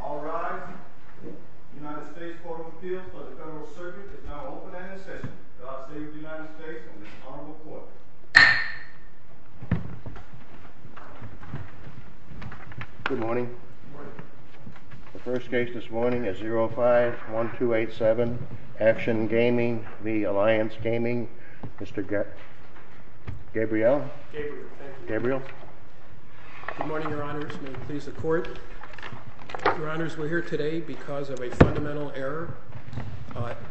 All rise. The United States Court of Appeals for the Federal Circuit is now open and in session. God save the United States and Mr. Honorable Court. Good morning. The first case this morning is 05-1287, Action Gaming v. Alliance Gaming. Mr. Gabriel. Gabriel. Good morning, Your Honors. May it please the Court. Your Honors, we're here today because of a fundamental error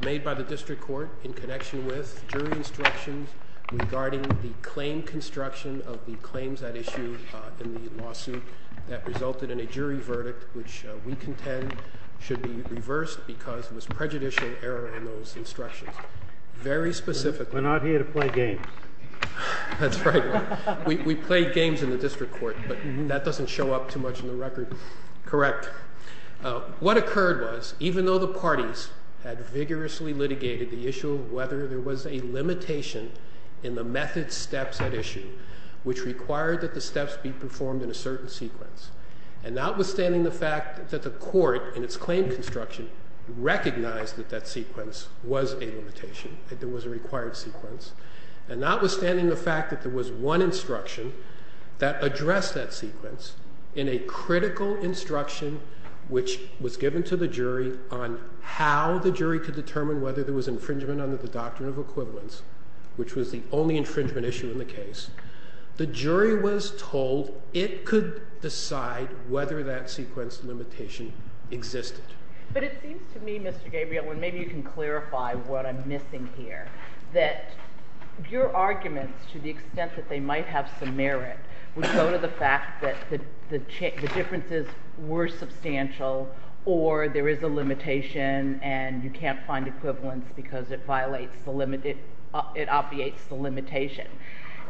made by the District Court in connection with jury instructions regarding the claim construction of the claims at issue in the lawsuit that resulted in a jury verdict which we contend should be reversed because it was prejudicial error in those instructions. We're not here to play games. That's right. We play games in the District Court, but that doesn't show up too much in the record. Correct. What occurred was, even though the parties had vigorously litigated the issue of whether there was a limitation in the method steps at issue, which required that the steps be performed in a certain sequence. And notwithstanding the fact that the court, in its claim construction, recognized that that sequence was a limitation, that there was a required sequence. And notwithstanding the fact that there was one instruction that addressed that sequence in a critical instruction which was given to the jury on how the jury could determine whether there was infringement under the doctrine of equivalence, which was the only infringement issue in the case. The jury was told it could decide whether that sequence limitation existed. But it seems to me, Mr. Gabriel, and maybe you can clarify what I'm missing here, that your arguments to the extent that they might have some merit would go to the fact that the differences were substantial or there is a limitation and you can't find equivalence because it obviates the limitation.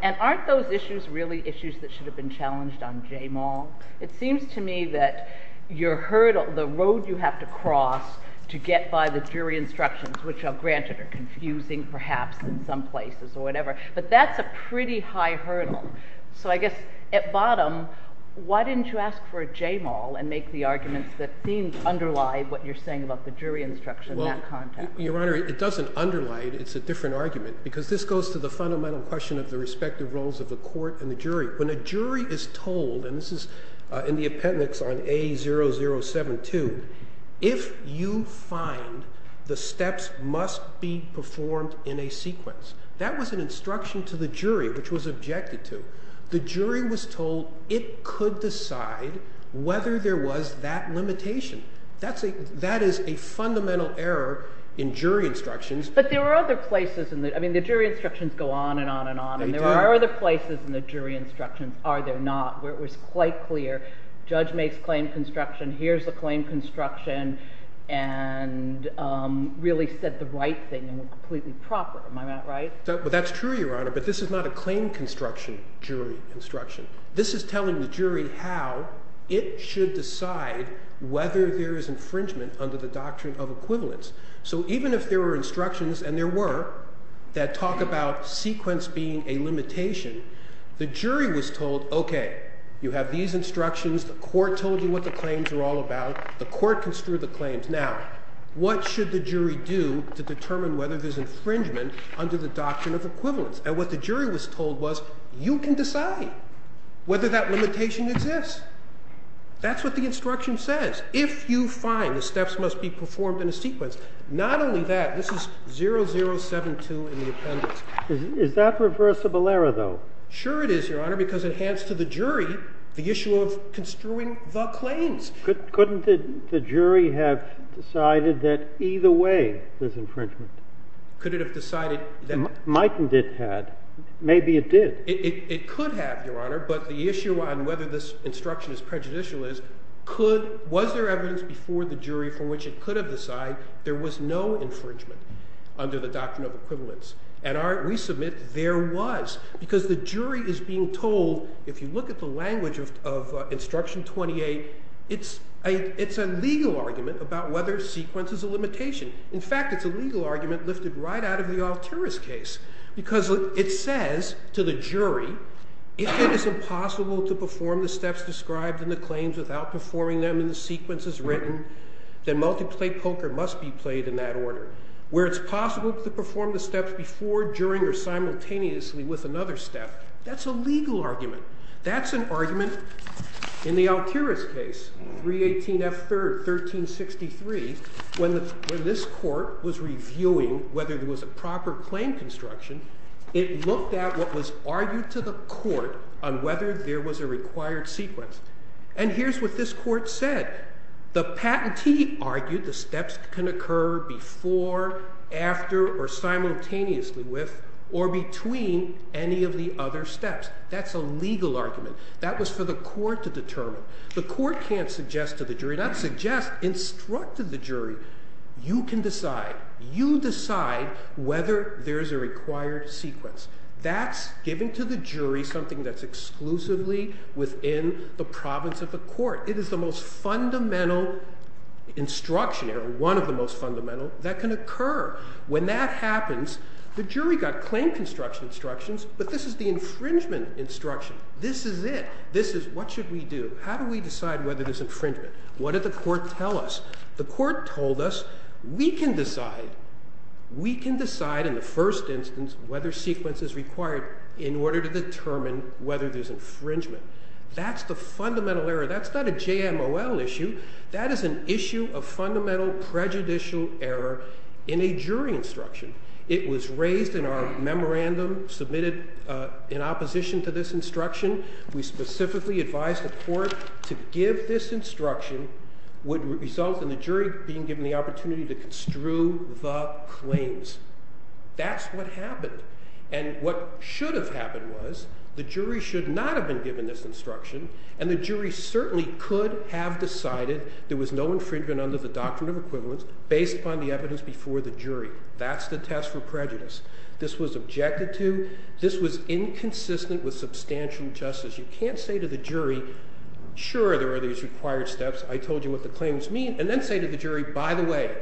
And aren't those issues really issues that should have been challenged on JMAL? It seems to me that your hurdle, the road you have to cross to get by the jury instructions, which granted are confusing perhaps in some places or whatever, but that's a pretty high hurdle. So I guess at bottom, why didn't you ask for a JMAL and make the arguments that seemed to underlie what you're saying about the jury instruction in that context? Your Honor, it doesn't underlie it. It's a different argument because this goes to the fundamental question of the respective roles of the court and the jury. When a jury is told, and this is in the appendix on A0072, if you find the steps must be performed in a sequence, that was an instruction to the jury which was objected to. The jury was told it could decide whether there was that limitation. That is a fundamental error in jury instructions. But there are other places. I mean, the jury instructions go on and on and on. They do. And there are other places in the jury instructions, are there not, where it was quite clear, judge makes claim construction, here's the claim construction, and really said the right thing and completely proper. Am I not right? That's true, Your Honor, but this is not a claim construction jury instruction. This is telling the jury how it should decide whether there is infringement under the doctrine of equivalence. So even if there were instructions, and there were, that talk about sequence being a limitation, the jury was told, okay, you have these instructions, the court told you what the claims are all about, the court construed the claims. Now, what should the jury do to determine whether there's infringement under the doctrine of equivalence? And what the jury was told was, you can decide whether that limitation exists. That's what the instruction says. If you find the steps must be performed in a sequence, not only that, this is 0072 in the appendix. Is that reversible error, though? Sure it is, Your Honor, because it hands to the jury the issue of construing the claims. Couldn't the jury have decided that either way there's infringement? Mightn't it have? Maybe it did. It could have, Your Honor, but the issue on whether this instruction is prejudicial is, was there evidence before the jury from which it could have decided there was no infringement under the doctrine of equivalence? And we submit there was, because the jury is being told, if you look at the language of Instruction 28, it's a legal argument about whether sequence is a limitation. In fact, it's a legal argument lifted right out of the Alturas case, because it says to the jury, if it is impossible to perform the steps described in the claims without performing them in the sequences written, then multiplay poker must be played in that order. Where it's possible to perform the steps before, during, or simultaneously with another step, that's a legal argument. That's an argument in the Alturas case, 318F3rd, 1363, when this court was reviewing whether there was a proper claim construction, it looked at what was argued to the court on whether there was a required sequence. And here's what this court said. The patentee argued the steps can occur before, after, or simultaneously with, or between any of the other steps. That's a legal argument. That was for the court to determine. The court can't suggest to the jury, not suggest, instruct to the jury, you can decide. You decide whether there's a required sequence. That's giving to the jury something that's exclusively within the province of the court. It is the most fundamental instruction, or one of the most fundamental, that can occur. When that happens, the jury got claim construction instructions, but this is the infringement instruction. This is it. This is what should we do? How do we decide whether there's infringement? What did the court tell us? The court told us, we can decide. We can decide in the first instance whether sequence is required in order to determine whether there's infringement. That's the fundamental error. That's not a JMOL issue. That is an issue of fundamental prejudicial error in a jury instruction. It was raised in our memorandum, submitted in opposition to this instruction. We specifically advised the court to give this instruction, would result in the jury being given the opportunity to construe the claims. That's what happened. And what should have happened was, the jury should not have been given this instruction, and the jury certainly could have decided there was no infringement under the doctrine of equivalence, based upon the evidence before the jury. That's the test for prejudice. This was objected to. This was inconsistent with substantial justice. You can't say to the jury, sure, there are these required steps. I told you what the claims mean. And then say to the jury, by the way,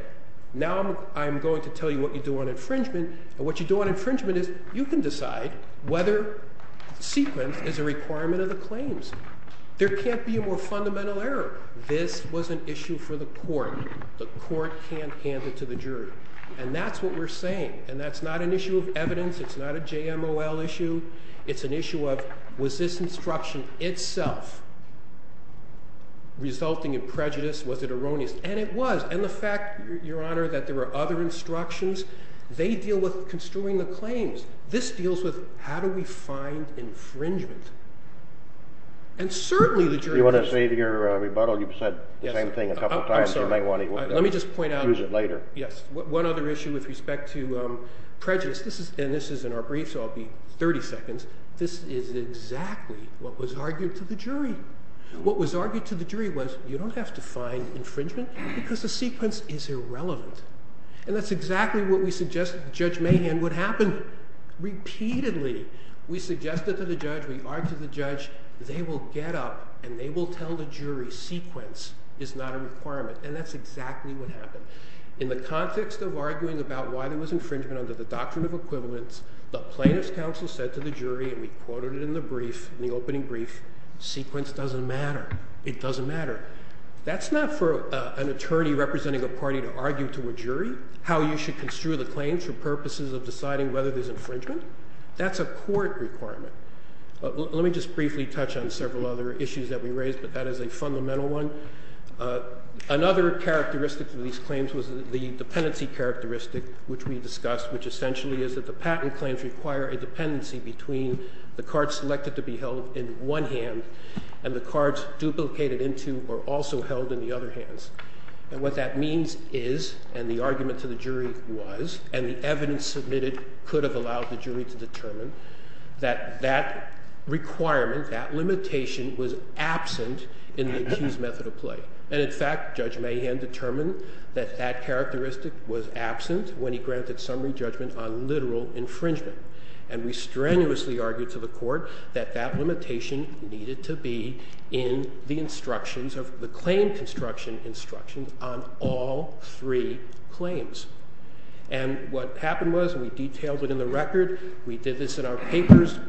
now I'm going to tell you what you do on infringement, and what you do on infringement is, you can decide whether sequence is a requirement of the claims. There can't be a more fundamental error. This was an issue for the court. The court can't hand it to the jury. And that's what we're saying. And that's not an issue of evidence. It's not a JMOL issue. It's an issue of, was this instruction itself resulting in prejudice? Was it erroneous? And it was. And the fact, Your Honor, that there were other instructions, they deal with construing the claims. This deals with, how do we find infringement? And certainly the jury... If you want to save your rebuttal, you've said the same thing a couple of times. You might want to use it later. Yes. One other issue with respect to prejudice, and this is in our brief, so I'll be 30 seconds. This is exactly what was argued to the jury. What was argued to the jury was, you don't have to find infringement because the sequence is irrelevant. And that's exactly what we suggested to Judge Mahan would happen. Repeatedly, we suggested to the judge, we argued to the judge, they will get up and they will tell the jury sequence is not a requirement. And that's exactly what happened. In the context of arguing about why there was infringement under the doctrine of equivalence, the plaintiff's counsel said to the jury, and we quoted it in the brief, in the opening brief, sequence doesn't matter. It doesn't matter. That's not for an attorney representing a party to argue to a jury how you should construe the claims for purposes of deciding whether there's infringement. That's a court requirement. Let me just briefly touch on several other issues that we raised, but that is a fundamental one. Another characteristic of these claims was the dependency characteristic, which we discussed, which essentially is that the patent claims require a dependency between the cards selected to be held in one hand and the cards duplicated into or also held in the other hands. And what that means is, and the argument to the jury was, and the evidence submitted could have allowed the jury to determine, that that requirement, that limitation was absent in the accused method of play. And in fact, Judge Mahan determined that that characteristic was absent when he granted summary judgment on literal infringement. And we strenuously argued to the court that that limitation needed to be in the instructions of the claim construction instructions on all three claims. And what happened was we detailed it in the record. We did this in our papers.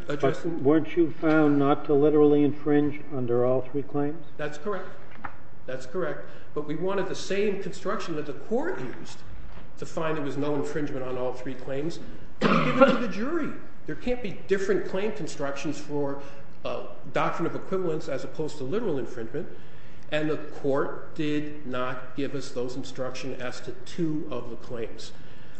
Weren't you found not to literally infringe under all three claims? That's correct. That's correct. But we wanted the same construction that the court used to find there was no infringement on all three claims to be given to the jury. There can't be different claim constructions for doctrine of equivalence as opposed to literal infringement. And the court did not give us those instructions as to two of the claims.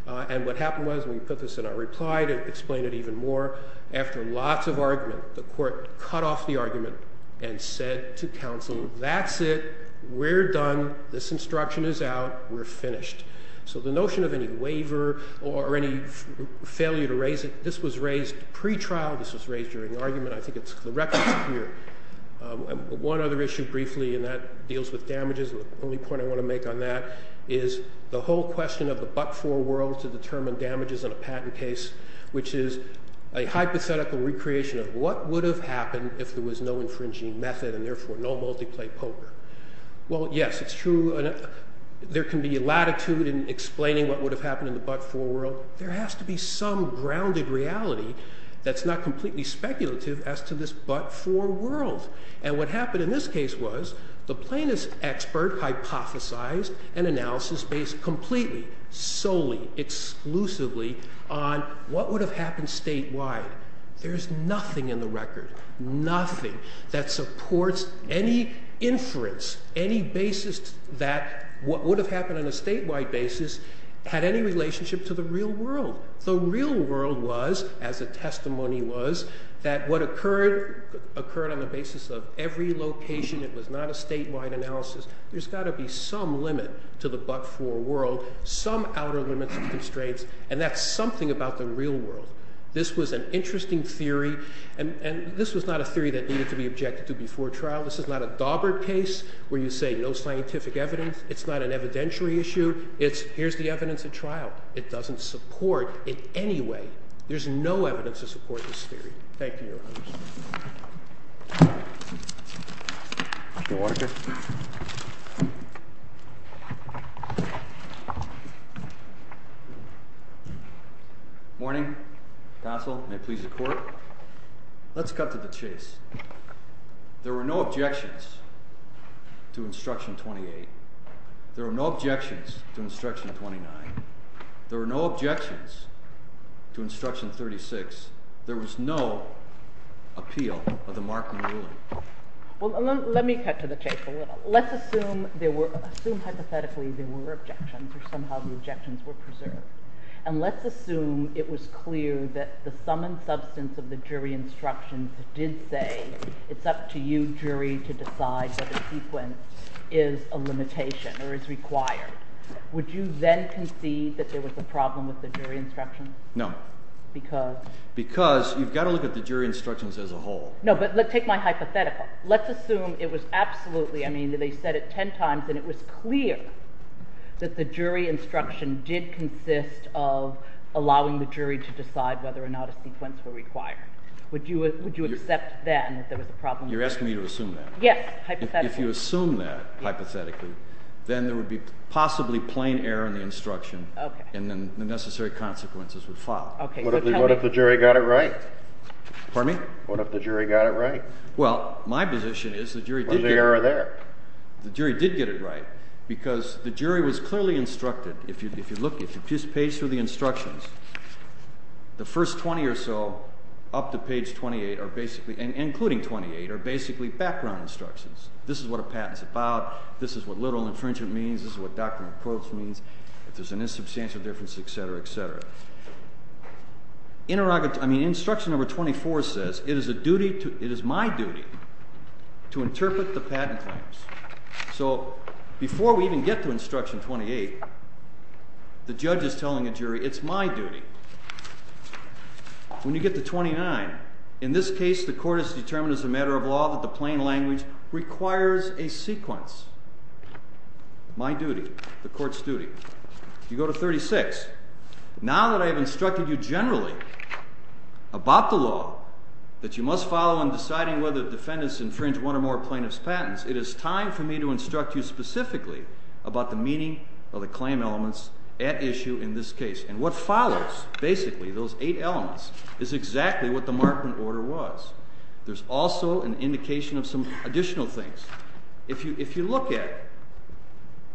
And what happened was we put this in our reply to explain it even more. After lots of argument, the court cut off the argument and said to counsel, that's it. We're done. This instruction is out. We're finished. So the notion of any waiver or any failure to raise it, this was raised pre-trial. This was raised during argument. I think it's the record here. One other issue briefly, and that deals with damages. The only point I want to make on that is the whole question of the but-for world to determine damages in a patent case, which is a hypothetical recreation of what would have happened if there was no infringing method and therefore no multi-play poker. Well, yes, it's true. There can be latitude in explaining what would have happened in the but-for world. There has to be some grounded reality that's not completely speculative as to this but-for world. And what happened in this case was the plaintiff's expert hypothesized an analysis based completely, solely, exclusively on what would have happened statewide. There's nothing in the record, nothing, that supports any inference, any basis that what would have happened on a statewide basis had any relationship to the real world. The real world was, as the testimony was, that what occurred occurred on the basis of every location. It was not a statewide analysis. There's got to be some limit to the but-for world, some outer limits and constraints, and that's something about the real world. This was an interesting theory, and this was not a theory that needed to be objected to before trial. This is not a Daubert case where you say no scientific evidence. It's not an evidentiary issue. It's here's the evidence at trial. It doesn't support it in any way. There's no evidence to support this theory. Thank you, Your Honor. Your Honor. Morning. Counsel, may it please the court. Let's cut to the chase. There were no objections to Instruction 28. There were no objections to Instruction 29. There were no objections to Instruction 36. There was no appeal of the Markham ruling. Well, let me cut to the chase a little. Let's assume hypothetically there were objections or somehow the objections were preserved, and let's assume it was clear that the sum and substance of the jury instructions did say it's up to you, jury, to decide that a sequence is a limitation or is required. Would you then concede that there was a problem with the jury instructions? No. Because you've got to look at the jury instructions as a whole. No, but take my hypothetical. Let's assume it was absolutely, I mean, they said it ten times, and it was clear that the jury instruction did consist of allowing the jury to decide whether or not a sequence were required. Would you accept then that there was a problem with the jury? You're asking me to assume that? Yes, hypothetically. If you assume that hypothetically, then there would be possibly plain error in the instruction, and then the necessary consequences would follow. What if the jury got it right? Pardon me? What if the jury got it right? Well, my position is the jury did get it right. What's the error there? The jury did get it right, because the jury was clearly instructed. If you look, if you page through the instructions, the first 20 or so up to page 28, including 28, are basically background instructions. This is what a patent's about. This is what literal infringement means. This is what doctrinal approach means. If there's an insubstantial difference, et cetera, et cetera. Then instruction number 24 says, it is my duty to interpret the patent claims. So before we even get to instruction 28, the judge is telling a jury, it's my duty. When you get to 29, in this case the court has determined as a matter of law that the plain language requires a sequence. My duty. The court's duty. You go to 36. Now that I have instructed you generally about the law, that you must follow in deciding whether the defendants infringe one or more plaintiff's patents, it is time for me to instruct you specifically about the meaning of the claim elements at issue in this case. And what follows, basically, those eight elements, is exactly what the Markman order was. There's also an indication of some additional things. If you look at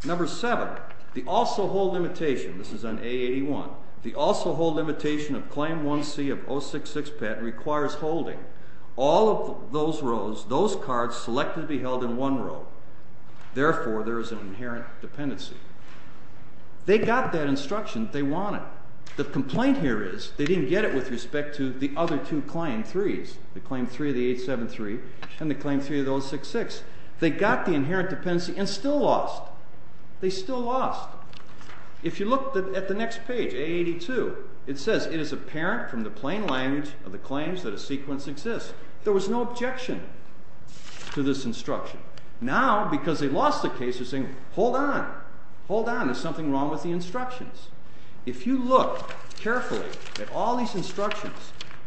number seven, the also hold limitation. This is on A81. The also hold limitation of claim 1C of 066 patent requires holding all of those rows, those cards selectively held in one row. Therefore, there is an inherent dependency. They got that instruction. They want it. The complaint here is they didn't get it with respect to the other two claim threes, the claim three of the 873 and the claim three of the 066. They got the inherent dependency and still lost. If you look at the next page, A82, it says it is apparent from the plain language of the claims that a sequence exists. There was no objection to this instruction. Now, because they lost the case, they're saying, hold on, hold on, there's something wrong with the instructions. If you look carefully at all these instructions,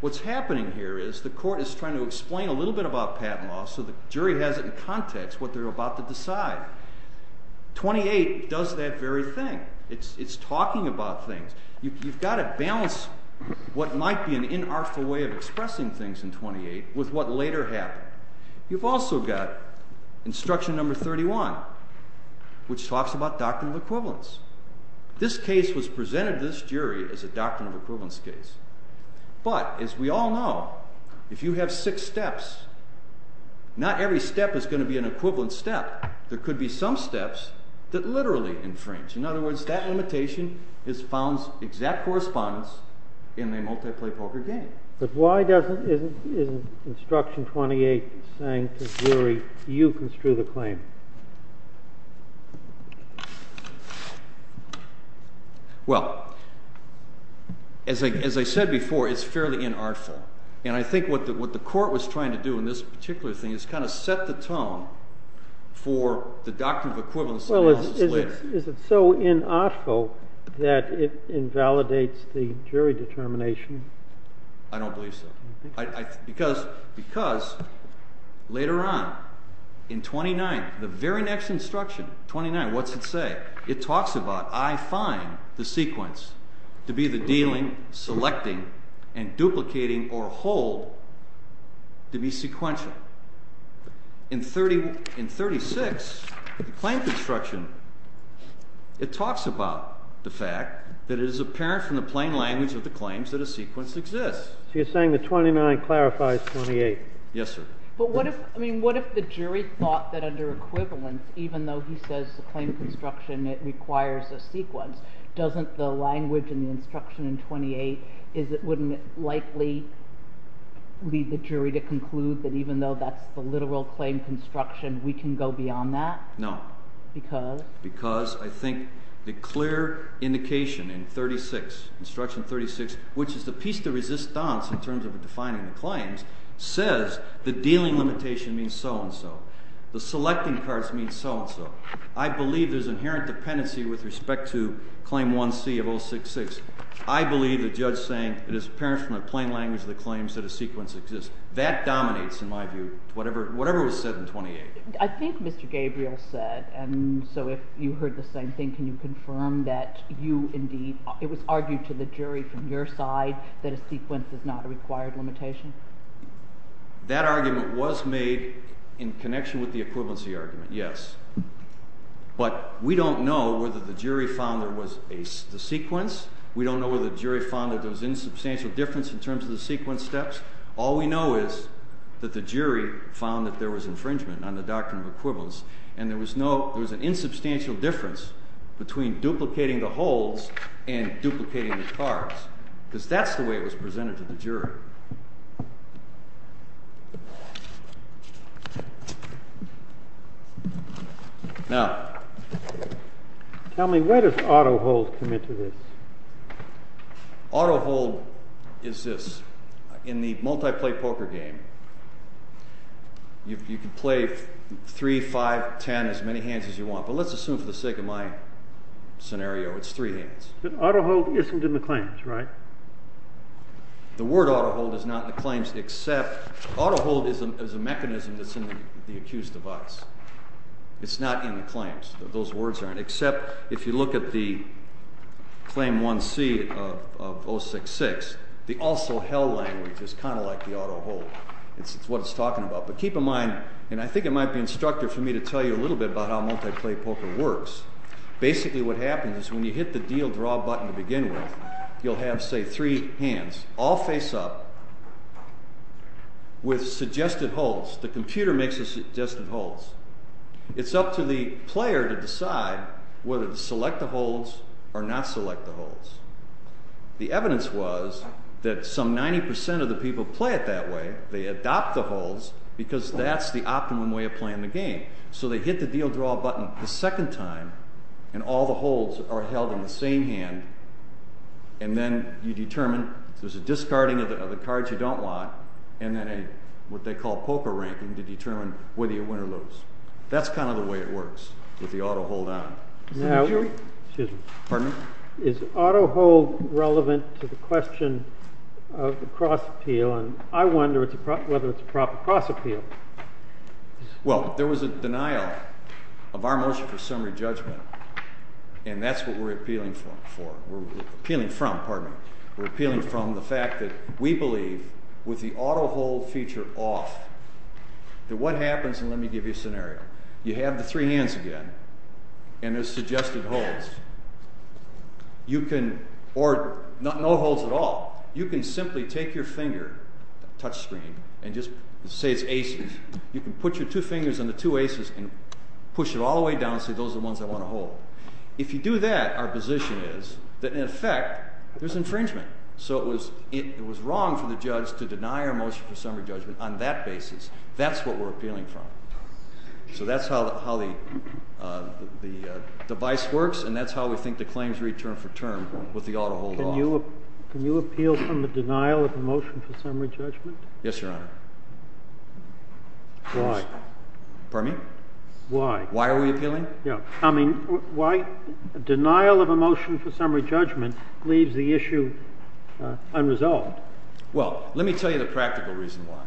what's happening here is the court is trying to explain a little bit about patent law so the jury has it in context what they're about to decide. 28 does that very thing. It's talking about things. You've got to balance what might be an inartful way of expressing things in 28 with what later happened. You've also got instruction number 31, which talks about doctrinal equivalence. This case was presented to this jury as a doctrinal equivalence case, but as we all know, if you have six steps, not every step is going to be an equivalent step. There could be some steps that literally infringe. In other words, that limitation has found exact correspondence in a multiplay poker game. But why isn't instruction 28 saying to the jury, you construe the claim? Well, as I said before, it's fairly inartful. And I think what the court was trying to do in this particular thing is kind of set the tone for the doctrinal equivalence analysis later. Is it so inartful that it invalidates the jury determination? I don't believe so. Because later on in 29, the very next instruction, 29, what's it say? It talks about I find the sequence to be the dealing, selecting, and duplicating or hold to be sequential. In 36, the claim construction, it talks about the fact that it is apparent from the plain language of the claims that a sequence exists. So you're saying that 29 clarifies 28. Yes, sir. But what if the jury thought that under equivalence, even though he says the claim construction requires a sequence, doesn't the language in the instruction in 28, wouldn't it likely lead the jury to conclude that even though that's the literal claim construction, we can go beyond that? No. Because? Because I think the clear indication in 36, instruction 36, which is the piece de resistance in terms of defining the claims, says the dealing limitation means so-and-so. The selecting parts mean so-and-so. I believe there's inherent dependency with respect to claim 1C of 066. I believe the judge is saying it is apparent from the plain language of the claims that a sequence exists. That dominates, in my view, whatever was said in 28. I think Mr. Gabriel said, and so if you heard the same thing, can you confirm that you indeed, it was argued to the jury from your side that a sequence is not a required limitation? That argument was made in connection with the equivalency argument, yes. But we don't know whether the jury found there was a sequence. We don't know whether the jury found that there was an insubstantial difference in terms of the sequence steps. All we know is that the jury found that there was infringement on the doctrine of equivalence, and there was an insubstantial difference between duplicating the holds and duplicating the cards, because that's the way it was presented to the jury. Now— Tell me, where does auto hold come into this? Auto hold is this. In the multiplay poker game, you can play three, five, ten, as many hands as you want, but let's assume for the sake of my scenario it's three hands. Auto hold isn't in the claims, right? The word auto hold is not in the claims, except auto hold is a mechanism that's in the accused's device. It's not in the claims. Those words aren't, except if you look at the claim 1C of 066, the also hell language is kind of like the auto hold. It's what it's talking about, but keep in mind, and I think it might be instructive for me to tell you a little bit about how multiplay poker works. Basically what happens is when you hit the deal draw button to begin with, you'll have, say, three hands, all face up, with suggested holds. The computer makes the suggested holds. It's up to the player to decide whether to select the holds or not select the holds. The evidence was that some 90% of the people play it that way. They adopt the holds because that's the optimum way of playing the game. So they hit the deal draw button the second time, and all the holds are held with the cards you don't want and then what they call poker ranking to determine whether you win or lose. That's kind of the way it works with the auto hold on. Is auto hold relevant to the question of the cross appeal, and I wonder whether it's a proper cross appeal. Well, there was a denial of our motion for summary judgment, and that's what we're appealing from. We're appealing from the fact that it's easy with the auto hold feature off that what happens, and let me give you a scenario. You have the three hands again, and there's suggested holds, or no holds at all. You can simply take your finger, touch screen, and just say it's aces. You can put your two fingers on the two aces and push it all the way down and say those are the ones I want to hold. That's what we're appealing from. So that's how the device works, and that's how we think the claims read term for term with the auto hold off. Can you appeal from the denial of a motion for summary judgment? Yes, Your Honor. Why? Pardon me? Why? Why are we appealing? I mean, why denial of a motion for summary judgment leaves the issue unresolved? Well, let me tell you the practical reason why.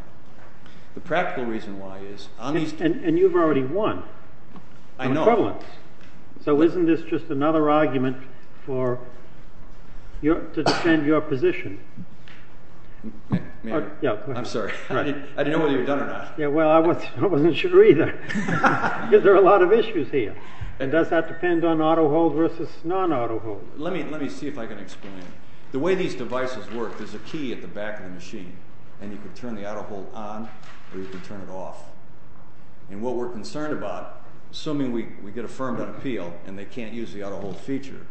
The practical reason why is... And you've already won on equivalence. I know. So isn't this just another argument to defend your position? I'm sorry. I didn't know whether you were done or not. Well, I wasn't sure either because there are a lot of issues here. Does that depend on auto hold versus non-auto hold? Let me see if I can explain. Let's say there's a key at the back of the machine and you can turn the auto hold on or you can turn it off. And what we're concerned about, assuming we get affirmed on appeal and they can't use the auto hold feature,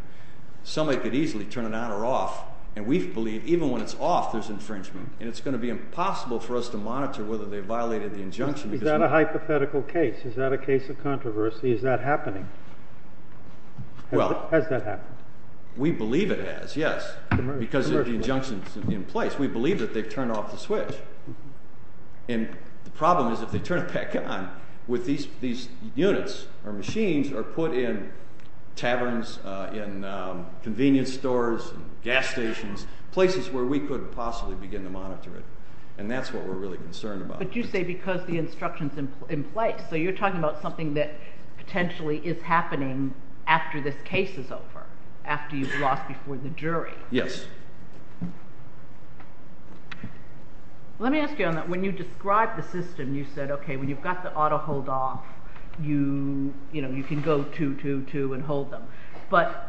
somebody could easily turn it on or off and we believe even when it's off there's infringement and it's going to be impossible for us to monitor whether they violated the injunction. Is that a hypothetical case? Is that a case of controversy? Because we believe that they've turned off the switch and the problem is if they turn it back on with these units or machines are put in taverns, in convenience stores, gas stations, places where we couldn't possibly begin to monitor it and that's what we're really concerned about. But you say because the instruction's in place so you're talking about something that potentially is happening after this case is over, let me ask you on that. When you describe the system you said okay, when you've got the auto hold off you can go to, to, to and hold them. But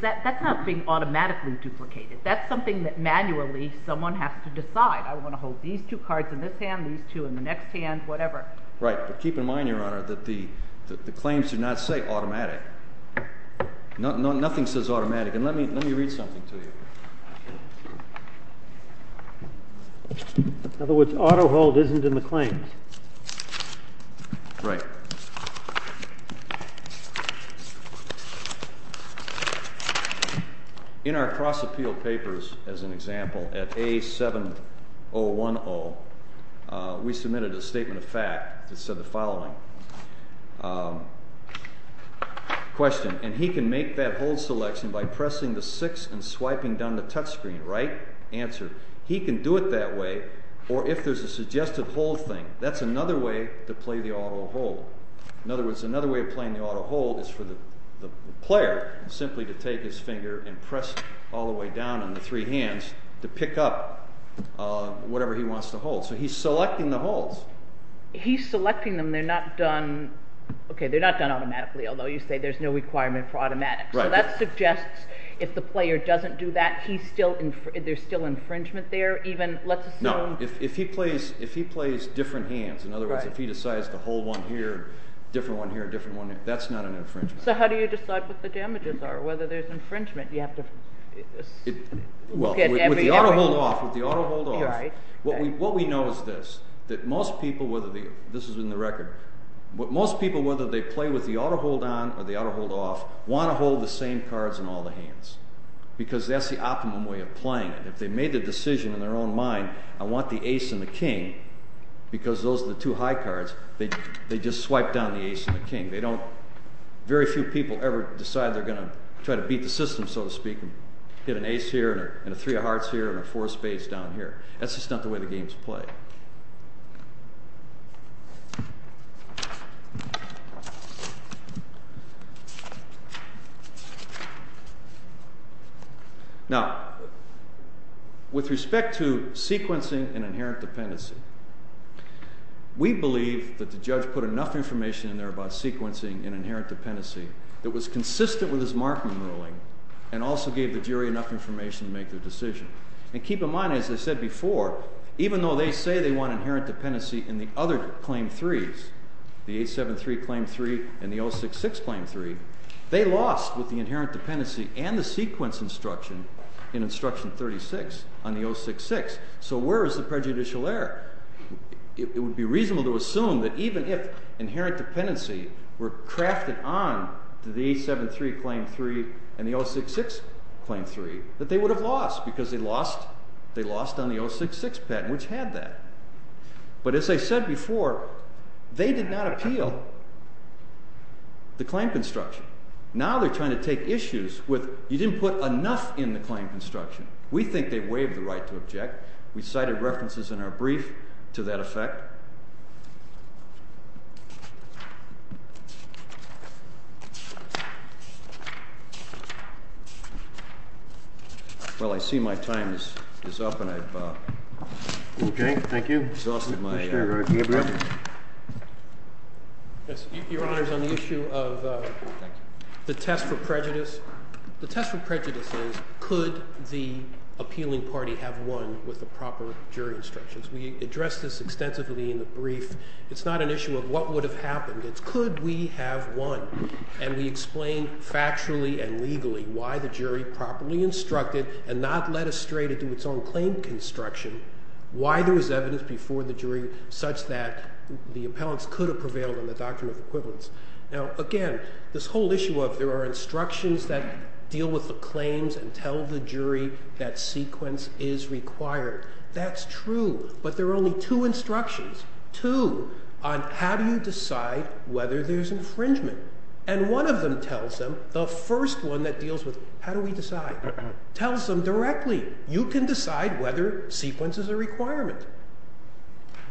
that's not being automatically duplicated. That's something that manually someone has to decide. I want to hold these two cards in this hand, these two in the next hand, whatever. Right, but keep in mind, Your Honor, that the claims do not say automatic. Nothing says automatic and let me read something to you. In other words, auto hold isn't in the claims. Right. In our cross appeal papers, as an example, at A7010 we submitted a statement of fact that said the following. Question, and he can make that hold selection by pressing the six and swiping down the touch screen. Right, answer. He can do it that way or if there's a suggested hold thing, that's another way to play the auto hold. In other words, another way of playing the auto hold is for the player simply to take his finger and press all the way down on the three hands to pick up whatever he wants to hold. So he's selecting the holds. He's selecting them. They're not done, the player doesn't do that. There's still infringement there? No, if he plays different hands, in other words, if he decides to hold one here, different one here, that's not an infringement. So how do you decide what the damages are, whether there's infringement? With the auto hold off, what we know is this, that most people, this is in the record, most people whether they play with the auto hold on because that's the optimum way of playing it. If they made the decision in their own mind, I want the ace and the king, because those are the two high cards, they just swipe down the ace and the king. They don't, very few people ever decide they're going to try to beat the system, so to speak, and get an ace here and a three of hearts here and a four of spades down here. That's just not the way the game's played. Now, with respect to sequencing and inherent dependency, we believe that the judge put enough information in there about sequencing and inherent dependency that was consistent with his Markman ruling and also gave the jury enough information to make their decision. And keep in mind, as I said before, even though they say they want inherent dependency in the other claim threes, the 873 claim three and the 066 claim three, they lost with the inherent dependency construction in instruction 36 on the 066. So where is the prejudicial error? It would be reasonable to assume that even if inherent dependency were crafted on to the 873 claim three and the 066 claim three, that they would have lost because they lost on the 066 patent, which had that. But as I said before, they did not appeal the claim construction. Now they're trying to take issues within the claim construction. We think they waived the right to object. We cited references in our brief to that effect. Well, I see my time is up and I've exhausted my time. Your Honor, on the issue of the test for prejudice, the test for prejudice is could the appealing party have won with the proper jury instructions. We addressed this extensively in the brief. It's not an issue of what would have happened. It's could we have won. And we explain factually and legally why the jury properly instructed and not led us straight into its own claim construction, why there was evidence before the jury such that the appellants could have prevailed on the doctrine of equivalence. Now again, this whole issue of there are instructions that deal with the claims and tell the jury that sequence is required. That's true. But there are only two instructions, two, on how do you decide whether there's infringement. And one of them tells them, the first one that deals with how do we decide, tells them directly you can decide whether sequence is a requirement.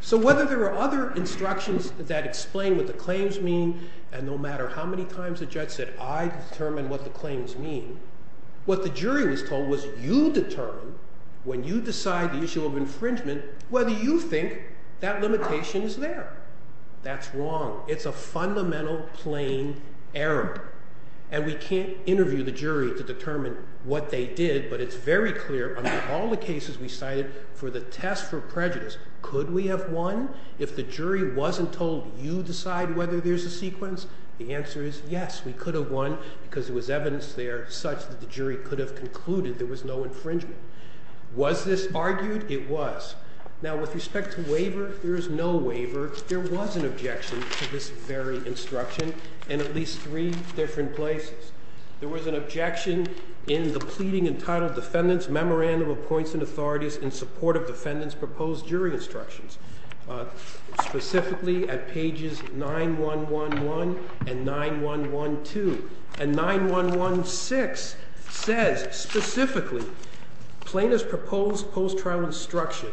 So whether there are other instructions that explain what the claims mean and no matter how many times the judge said I determine what the claims mean, what the jury was told was you determine when you decide the issue of infringement whether you think that limitation is there. That's wrong. It's a fundamental plain error. And we can't interview the jury to determine what they did but it's very clear under all the cases we cited for the test for prejudice, could we have won if the jury wasn't told you decide whether there's a sequence? The answer is yes. We could have won because there was evidence there such that the jury could have concluded there was no infringement. Was this argued? It was. Now with respect to waiver, there is no waiver. There was an objection to this very instruction in at least three different places. There was an objection in the pleading entitled defendants memorandum appoints and authorities in support of defendants proposed jury instructions. Specifically at pages 9-1-1-1 and 9-1-1-2 and 9-1-1-6 says specifically plaintiff's proposed post-trial instruction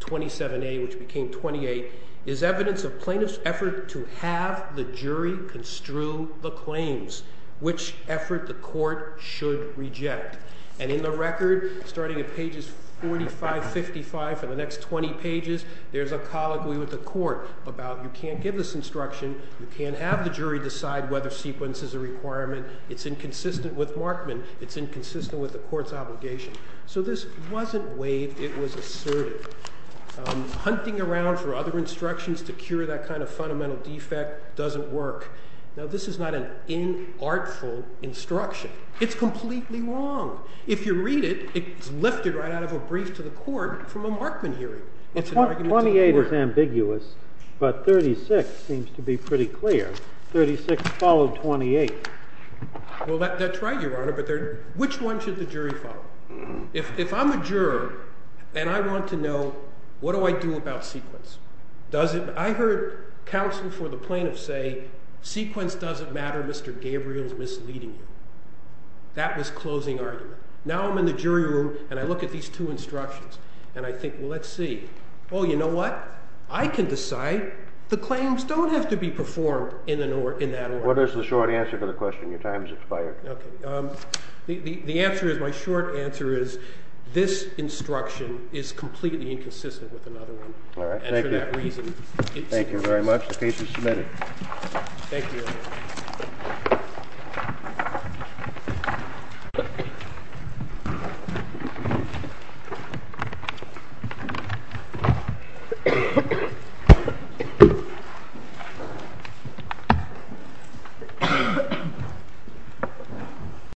27A which became 28 is evidence of plaintiff's effort to have the jury construe the claims which effort the court should reject. And in the record starting at pages 45-55 for the next 20 pages there's a colloquy with the court about you can't give this instruction, you can't have the jury decide whether sequence is a requirement, it's inconsistent with Markman, it's inconsistent with the court's obligation. So this wasn't waived, it was asserted. Hunting around for other instructions to cure that kind of fundamental defect doesn't work. Now this is not an inartful instruction. It's completely wrong. If you read it, it's lifted right out of a brief to the court from a Markman hearing. 28 is ambiguous but 36 seems to be pretty clear. 36 followed 28. Well, that's right, Your Honor, but which one should the jury follow? If I'm a juror and I want to know what do I do about sequence? I heard counsel for the plaintiff say sequence doesn't matter, Mr. Gabriel's misleading you. That was closing argument. Now I'm in the jury room and I look at these two instructions and I think, well, let's see. Oh, you know what? I can decide the claims don't have to be performed in that order. What is the short answer to the question? Your time has expired. Okay. The answer is, my short answer is this instruction is completely inconsistent with another one. All right. Thank you. Thank you very much. The case is submitted. Thank you. Thank you.